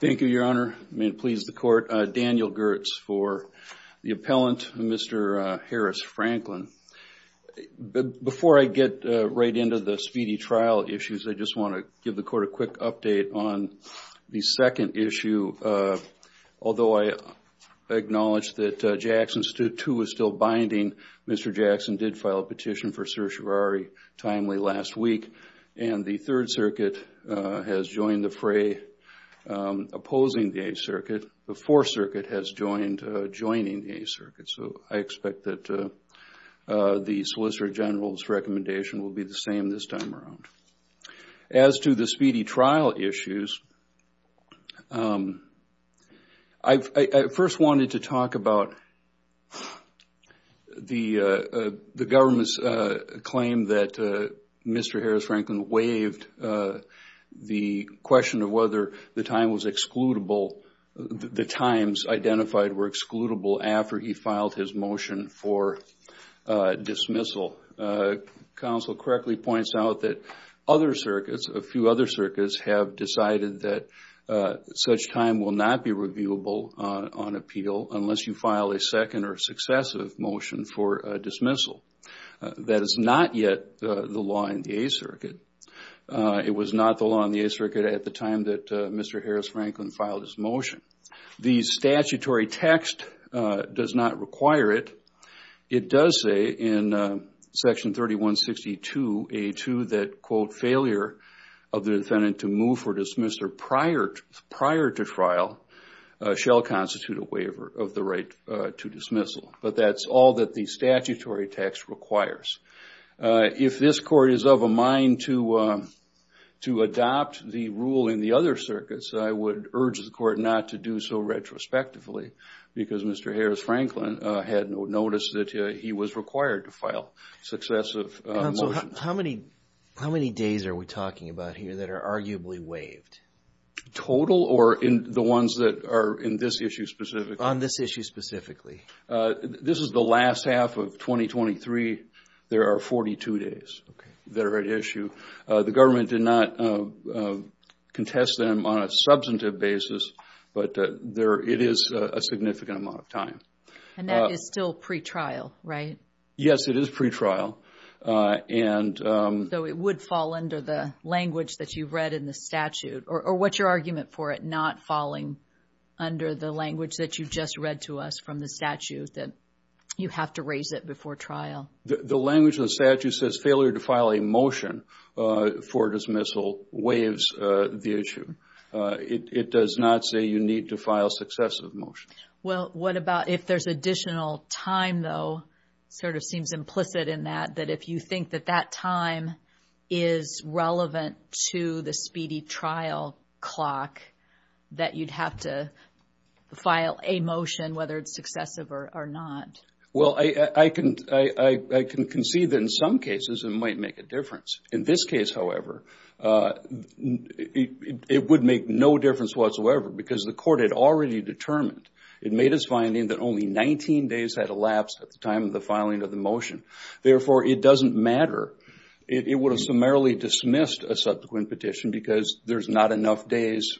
Thank you, Your Honor. May it please the Court, Daniel Girtz for the appellant, Mr. Harris-Franklin. Before I get right into the speedy trial issues, I just want to give the Court a quick update on the second issue. Although I acknowledge that Jackson's 2 is still binding, Mr. Jackson did file a petition for certiorari timely last week, and the Third Circuit has joined the fray opposing the Eighth Circuit. The Fourth Circuit has joined, joining the Eighth Circuit. So I expect that the Solicitor General's recommendation will be the same this time around. As to the speedy trial issues, I first wanted to talk about the government's claim that Mr. Harris-Franklin waived the question of whether the time was excludable, the times identified were after he filed his motion for dismissal. Counsel correctly points out that other circuits, a few other circuits, have decided that such time will not be reviewable on appeal unless you file a second or successive motion for dismissal. That is not yet the law in the Eighth Circuit. It was not the law in the Eighth Circuit at the time that Mr. Harris-Franklin filed his motion. The statutory text does not require it. It does say in Section 3162A2 that, quote, failure of the defendant to move for dismissal prior to trial shall constitute a waiver of the right to dismissal. But that's all that the statutory text requires. If this Court is of a mind to adopt the rule in the other circuits, I would urge the Court not to do so retrospectively because Mr. Harris-Franklin had noticed that he was required to file successive motions. Counsel, how many days are we talking about here that are arguably waived? Total or in the ones that are in this issue specifically? On this issue specifically. This is the last half of 2023. There are 42 days that are at issue. The government did not contest them on a substantive basis, but it is a significant amount of time. And that is still pre-trial, right? Yes, it is pre-trial. So it would fall under the language that you've read in the statute or what's your argument for it not falling under the language that you just read to us from the statute that you have to raise it before trial? The language of the statute says failure to file a motion for dismissal waives the issue. It does not say you need to file successive motions. Well, what about if there's additional time, though? It sort of seems implicit in that, that if you think that that time is relevant to the speedy trial clock, that you'd have to file a motion whether it's successive or not. Well, I can concede that in some cases it might make a difference. In this case, however, it would make no difference whatsoever because the court had already determined, it made its finding that only 19 days had elapsed at the time of the filing of the motion. Therefore, it doesn't matter. It would have summarily dismissed a subsequent petition because there's not enough days,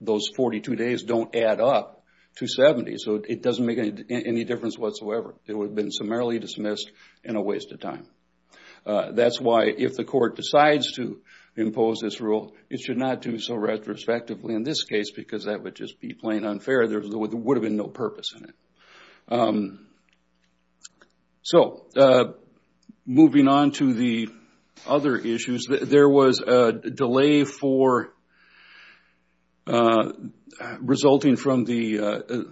those 42 days don't add up to 70. So it doesn't make any difference whatsoever. It would have been summarily dismissed and a waste of time. That's why if the court decides to impose this rule, it should not do so retrospectively in this case because that would just be plain unfair. There would have been no purpose in it. So moving on to the other issues, there was a delay for resulting from the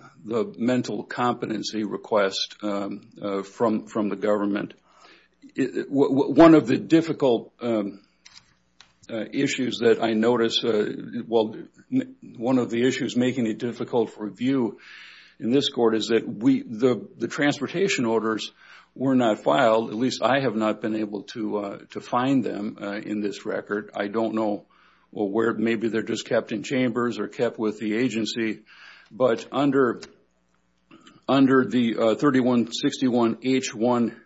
mental competency request from the government. One of the difficult issues that I noticed, well, one of the issues making it difficult for review in this court is that the transportation orders were not filed, at least I have not been able to where maybe they're just kept in chambers or kept with the agency. But under the 3161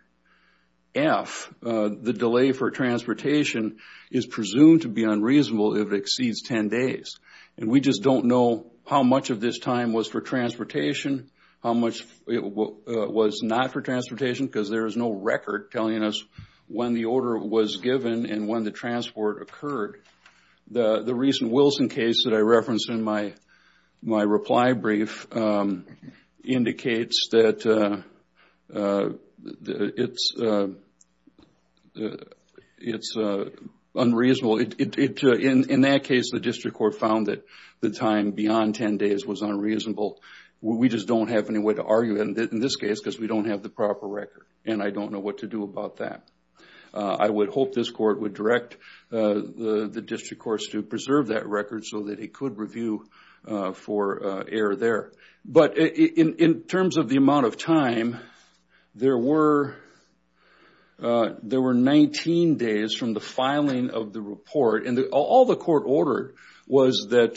H1F, the delay for transportation is presumed to be unreasonable if it exceeds 10 days. And we just don't know how much of this time was for transportation, how much it was not for transportation because there is no record telling us when the order was given and when the transport occurred. The recent Wilson case that I referenced in my reply brief indicates that it's unreasonable. In that case, the district court found that the time beyond 10 days was unreasonable. We just don't have any way to argue in this case because we don't have the proper record and I don't know what to do about that. I would hope this court would direct the district courts to preserve that record so that it could review for error there. But in terms of the amount of time, there were 19 days from the filing of the report and all the court ordered was that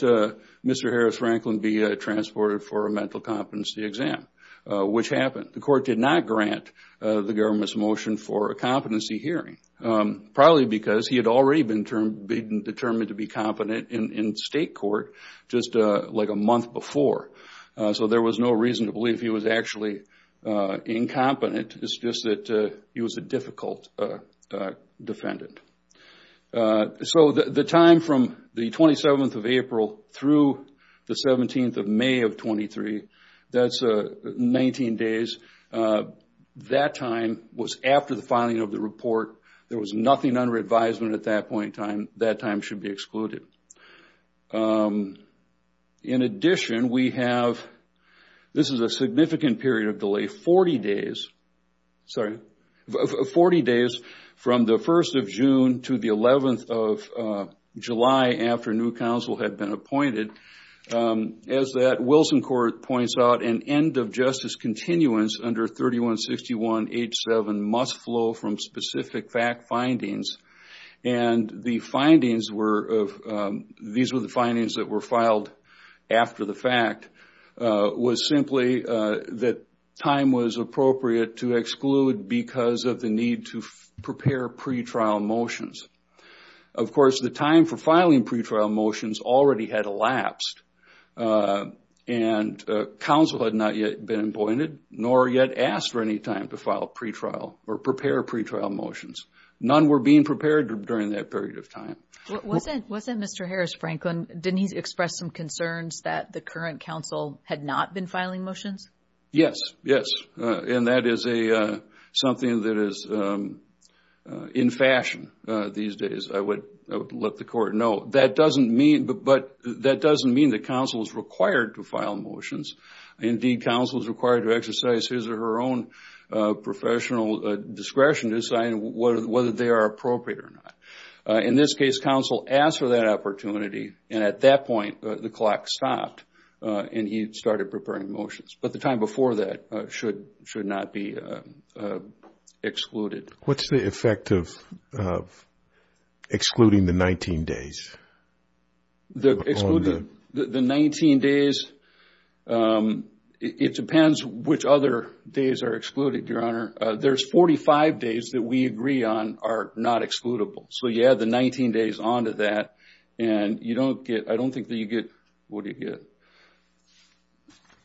Mr. Franklin be transported for a mental competency exam, which happened. The court did not grant the government's motion for a competency hearing, probably because he had already been determined to be competent in state court just like a month before. So there was no reason to believe he was actually incompetent. It's just that he was a difficult defendant. So the time from the 27th of April through the 17th of May of 2023, that's 19 days. That time was after the filing of the report. There was nothing under advisement at that point in time. That time should be excluded. In addition, this is a significant period of delay, 40 days from the 1st of June to the 11th of July after new counsel had been appointed. As that Wilson court points out, an end of justice continuance under 3161H7 must flow from specific fact findings. These were the findings that were filed after the fact. It was simply that time was appropriate to exclude because of the need to prepare pre-trial motions. Of course, the time for filing pre-trial motions already had elapsed and counsel had not yet been appointed nor yet asked for any time to file pre-trial or prepare pre-trial motions. None were being prepared during that period of time. Wasn't Mr. Harris, Franklin, didn't he express some concerns that the current counsel had not been filing motions? Yes, and that is something that is in fashion these days. I would let the court know. That doesn't mean that counsel is required to file motions. Indeed, counsel is required to exercise his or her own professional discretion to decide whether they are appropriate or not. In this case, counsel asked for that opportunity and at that point, the clock stopped and he started preparing motions. The time before that should not be excluded. What is the effect of excluding the 19 days? The 19 days, it depends which other days are excluded, Your Honor. There are 45 days that we agree on are not excludable. You add the 19 days onto that and I don't think that you get that.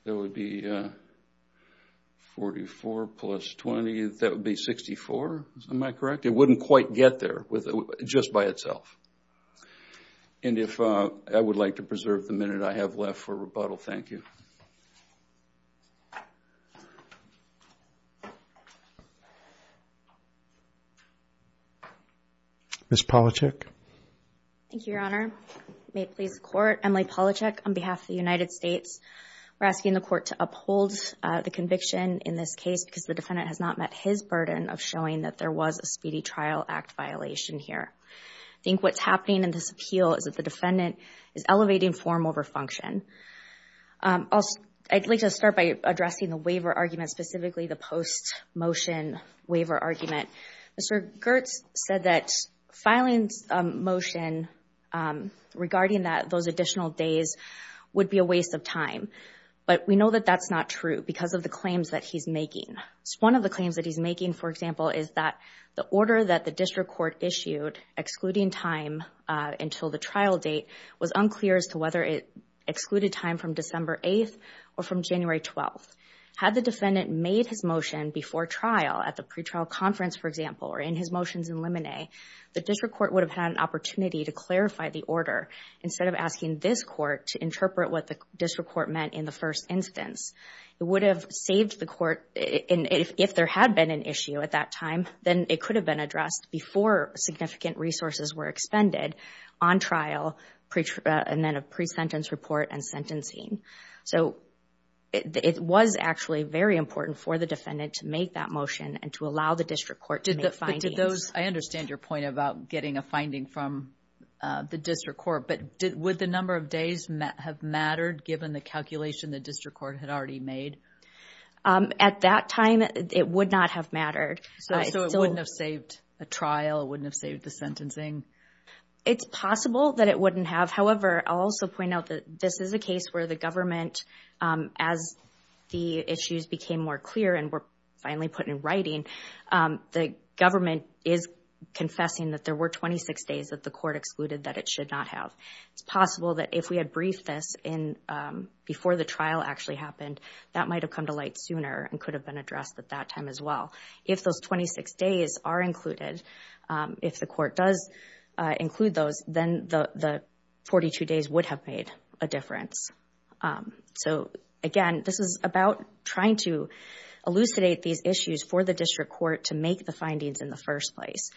That would be 44 plus 20, that would be 64. Am I correct? It wouldn't quite get there just by itself. And if I would like to preserve the minute I have left for rebuttal, thank you. Ms. Palachuk. Thank you, Your Honor. May it please the court, Emily Palachuk on behalf of the United States. We're asking the court to uphold the conviction in this case because the defendant has not met his burden of showing that there was a Speedy Trial Act violation here. I think what's happening in this appeal is that the defendant is elevating form over function. I'd like to start by addressing the waiver argument, specifically the post-motion waiver argument. Mr. Girtz said that filing a motion regarding those additional days would be a waste of time. But we know that that's not true because of the claims that he's making. One of the claims that he's making, for example, is that the order that the district court issued, excluding time until the trial date, was unclear as to whether it excluded time from December 8th or from January 12th. Had the defendant made his motion before trial at the pretrial conference, for example, or in his motions in limine, the district court would have had an opportunity to clarify the order instead of asking this court to interpret what the district court meant in the first instance. It would have saved the court, if there had been an issue at that time, then it could have been addressed before significant resources were expended on trial and then a pre-sentence report and sentencing. It was actually very important for the defendant to make that motion and to allow the district court to make findings. I understand your point about getting a finding from the district court, but would the number of days have mattered given the calculation the district court had already made? At that time, it would not have mattered. So it wouldn't have saved a trial, wouldn't have saved the sentencing? It's possible that it wouldn't have. However, I'll also point out that this is a case where the government, as the issues became more clear and were finally put in writing, the government is confessing that there were 26 days that the court excluded that it should not have. It's possible that if we had briefed this before the trial actually happened, that might have come to light sooner and could have been addressed at that time as well. If those 26 days are included, if the court does include those, then the 42 days would have made a difference. So again, this is about trying to elucidate these issues for the district court to make the findings in the first place.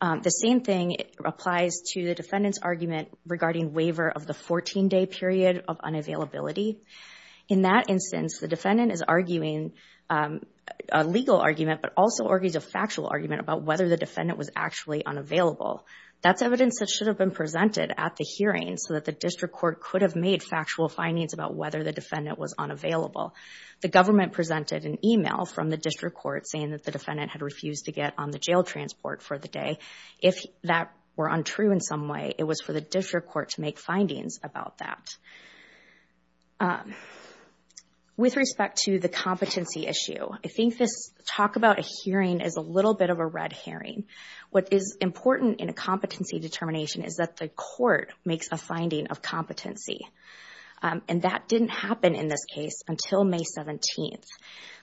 The same thing applies to the defendant's argument regarding waiver of the 14-day period of unavailability. In that instance, the defendant is arguing a legal argument but also argues a factual argument about whether the defendant was actually unavailable. That's evidence that should have been presented at the hearing so that district court could have made factual findings about whether the defendant was unavailable. The government presented an email from the district court saying that the defendant had refused to get on the jail transport for the day. If that were untrue in some way, it was for the district court to make findings about that. With respect to the competency issue, I think this talk about a hearing is a little bit of a red herring. What is important in a competency determination is that the court makes a finding of competency. And that didn't happen in this case until May 17th.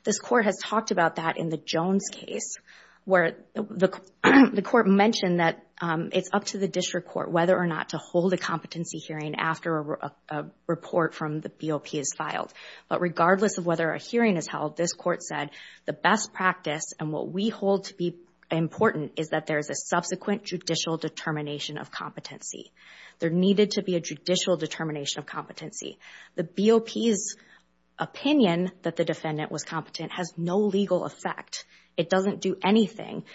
This court has talked about that in the Jones case where the court mentioned that it's up to the district court whether or not to hold a competency hearing after a report from the BOP is filed. But regardless of whether a hearing is held, this court said the best practice and what we hold to be important is that there is a subsequent judicial determination of competency. There needed to be a judicial determination of competency. The BOP's opinion that the defendant was competent has no legal effect. It doesn't do anything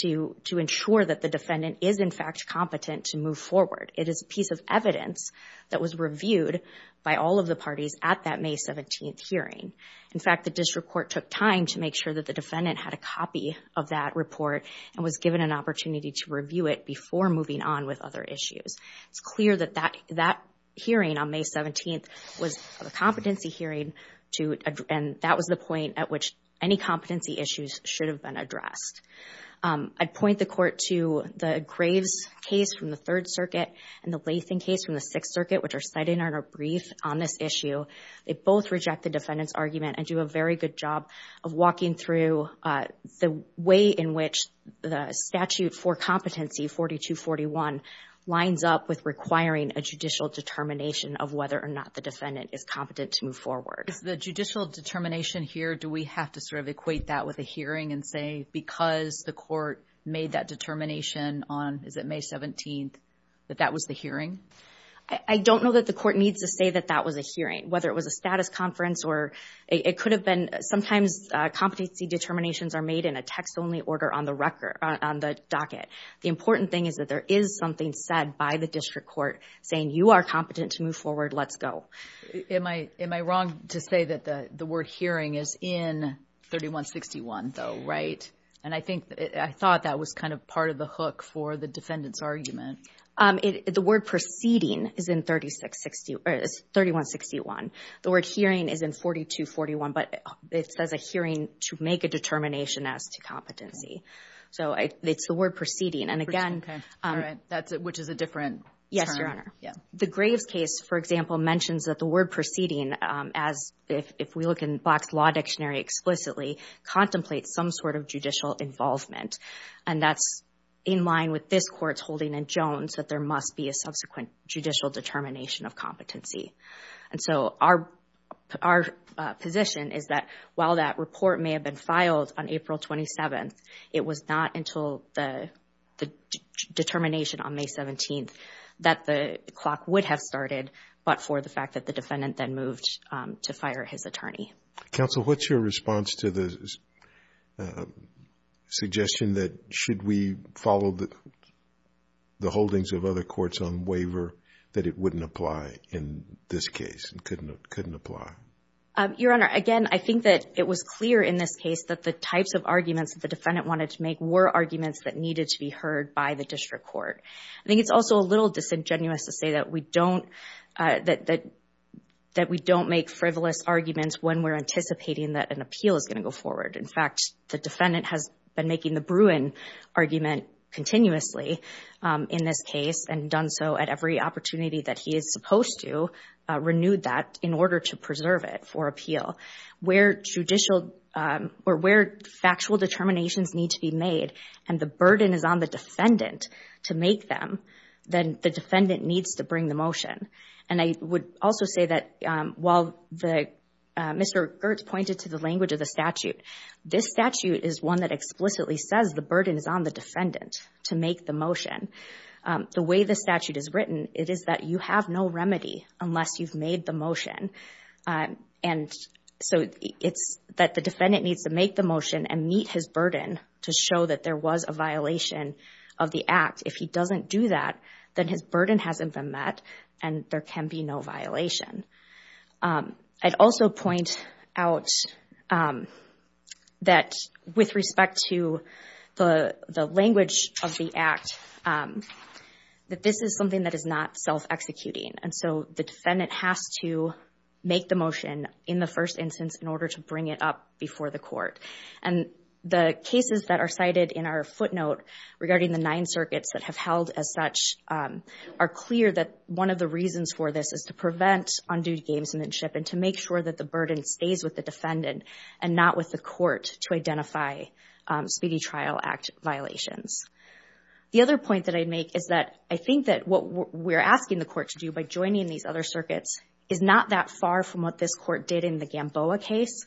to ensure that the defendant is in fact competent to move forward. It is a piece of evidence that was reviewed by all of the parties at that May 17th hearing. In fact, the district court took time to make sure that the defendant had a copy of that report and was given an opportunity to review it before moving on with other issues. It's clear that that hearing on May 17th was a competency hearing and that was the point at which any competency issues should have been addressed. I'd point the court to the Graves case from the Third Circuit and the Latham case from the Sixth Circuit, which are cited in our brief on this issue. They both reject the defendant's argument and do a very good job of walking through the way in which the statute for competency 4241 lines up with requiring a judicial determination of whether or not the defendant is competent to move forward. Is the judicial determination here, do we have to sort of equate that with a hearing and say because the court made that determination on, is it May 17th, that that was the hearing? I don't know that the court needs to say that that was a hearing, whether it was a status conference or it could have been. Sometimes competency determinations are made in a text-only order on the record, on the docket. The important thing is that there is something said by the district court saying you are competent to move forward, let's go. Am I wrong to say that the word hearing is in 3161 though, right? And I think I thought that was kind of part of the hook for the defendant's argument. The word proceeding is in 3161. The word hearing is in 4241, but it says a hearing to make a determination as to competency. So it's the word proceeding. And again, which is a different term. Yes, Your Honor. The Graves case, for example, mentions that the word proceeding, as if we look in Black's Law Dictionary explicitly, contemplates some sort of judicial involvement. And that's in line with this court's holding in that there must be a subsequent judicial determination of competency. And so our position is that while that report may have been filed on April 27th, it was not until the determination on May 17th that the clock would have started, but for the fact that the defendant then moved to fire his attorney. Counsel, what's your response to the defendant's suggestion that should we follow the holdings of other courts on waiver, that it wouldn't apply in this case and couldn't apply? Your Honor, again, I think that it was clear in this case that the types of arguments that the defendant wanted to make were arguments that needed to be heard by the district court. I think it's also a little disingenuous to say that we don't make frivolous arguments when we're anticipating that an appeal is going to go forward. In fact, the defendant has been making the Bruin argument continuously in this case and done so at every opportunity that he is supposed to, renewed that in order to preserve it for appeal. Where factual determinations need to be made and the burden is on the defendant to make them, then the defendant needs to bring the motion. And I would also say that while Mr. Girtz pointed to the language of the statute, this statute is one that explicitly says the burden is on the defendant to make the motion. The way the statute is written, it is that you have no remedy unless you've made the motion. And so it's that the defendant needs to make the motion and meet his burden to show that there was a violation of the act. If he doesn't do that, then his burden hasn't been met and there can be no violation. I'd also point out that with respect to the language of the act, that this is something that is not self-executing. And so the defendant has to make the motion in the first instance in order to bring it up before the court. And the cases that are cited in our footnote regarding the nine circuits that have as such are clear that one of the reasons for this is to prevent undue gamesmanship and to make sure that the burden stays with the defendant and not with the court to identify speedy trial act violations. The other point that I'd make is that I think that what we're asking the court to do by joining these other circuits is not that far from what this court did in the Gamboa case.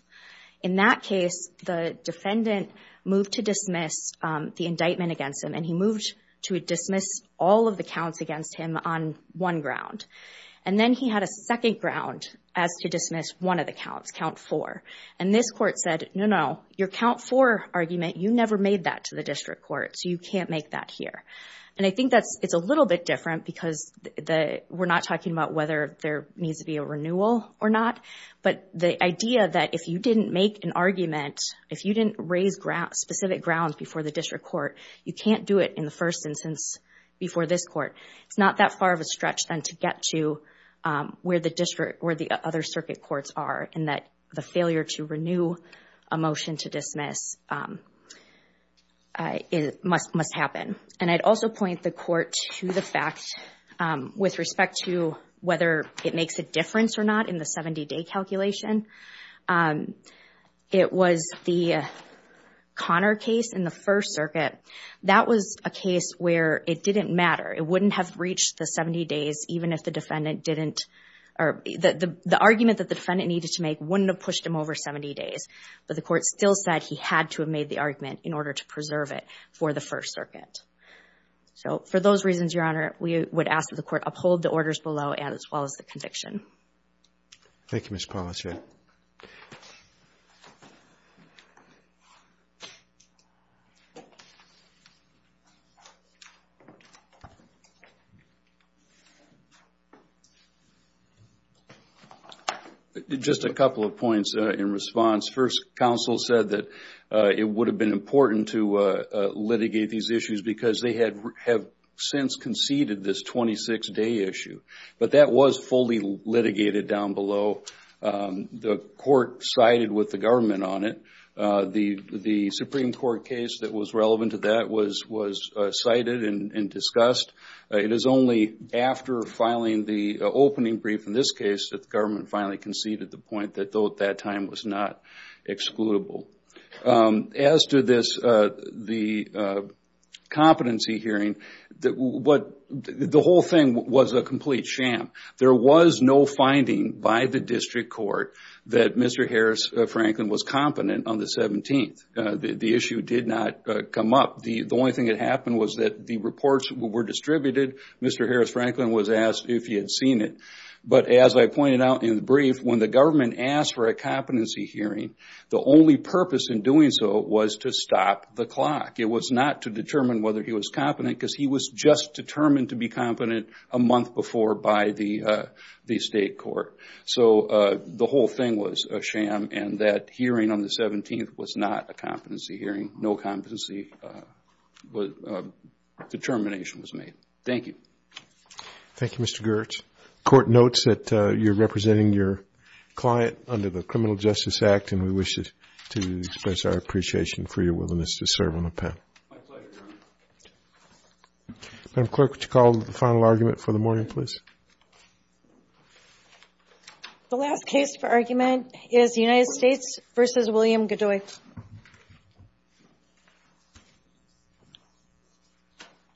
In that case, the defendant moved to dismiss the indictment against him and he moved to all of the counts against him on one ground. And then he had a second ground as to dismiss one of the counts, count four. And this court said, no, no, your count four argument, you never made that to the district court, so you can't make that here. And I think it's a little bit different because we're not talking about whether there needs to be a renewal or not, but the idea that if you didn't make an argument, if you didn't raise specific grounds before the district court, you can't do it in the first instance before this court. It's not that far of a stretch then to get to where the district or the other circuit courts are in that the failure to renew a motion to dismiss must happen. And I'd also point the court to the fact with respect to whether it makes a difference or not in the 70-day calculation, it was the Conner case in the First Circuit, that was a case where it didn't matter. It wouldn't have reached the 70 days even if the defendant didn't, or the argument that the defendant needed to make wouldn't have pushed him over 70 days. But the court still said he had to have made the argument in order to preserve it for the First Circuit. So for those reasons, Your Honor, we would ask that the court uphold the orders below, as well as the conviction. Thank you, Ms. Paulus. Just a couple of points in response. First, counsel said that it would have been important to litigate these issues because they have since conceded this 26-day issue. But that was fully litigated down below. The court sided with the government on it. The Supreme Court case that was relevant to that was cited and discussed. It is only after filing the opening brief in this case that the government finally conceded the point that though at that time was not excludable. As to this, the competency hearing, the whole thing was a complete sham. There was no finding by the district court that Mr. Harris Franklin was competent on the 17th. The issue did not come up. The only thing that happened was that the reports were distributed. Mr. Harris Franklin was asked if he had seen it. But as I pointed out in the brief, when the government asked for a competency hearing, the only purpose in doing so was to stop the clock. It was not to determine whether he was competent because he was just determined to be competent a month before by the state court. So the whole thing was a sham and that hearing on the 17th was not a competency hearing. No competency determination was made. Thank you. Thank you, Mr. Gertz. The court notes that you're representing your client under the Criminal Justice Act and we wish to express our appreciation for your willingness to serve on the panel. My pleasure, Your Honor. Madam Clerk, would you call the final argument for the morning, please? The last case for argument is United States v. William Godoy.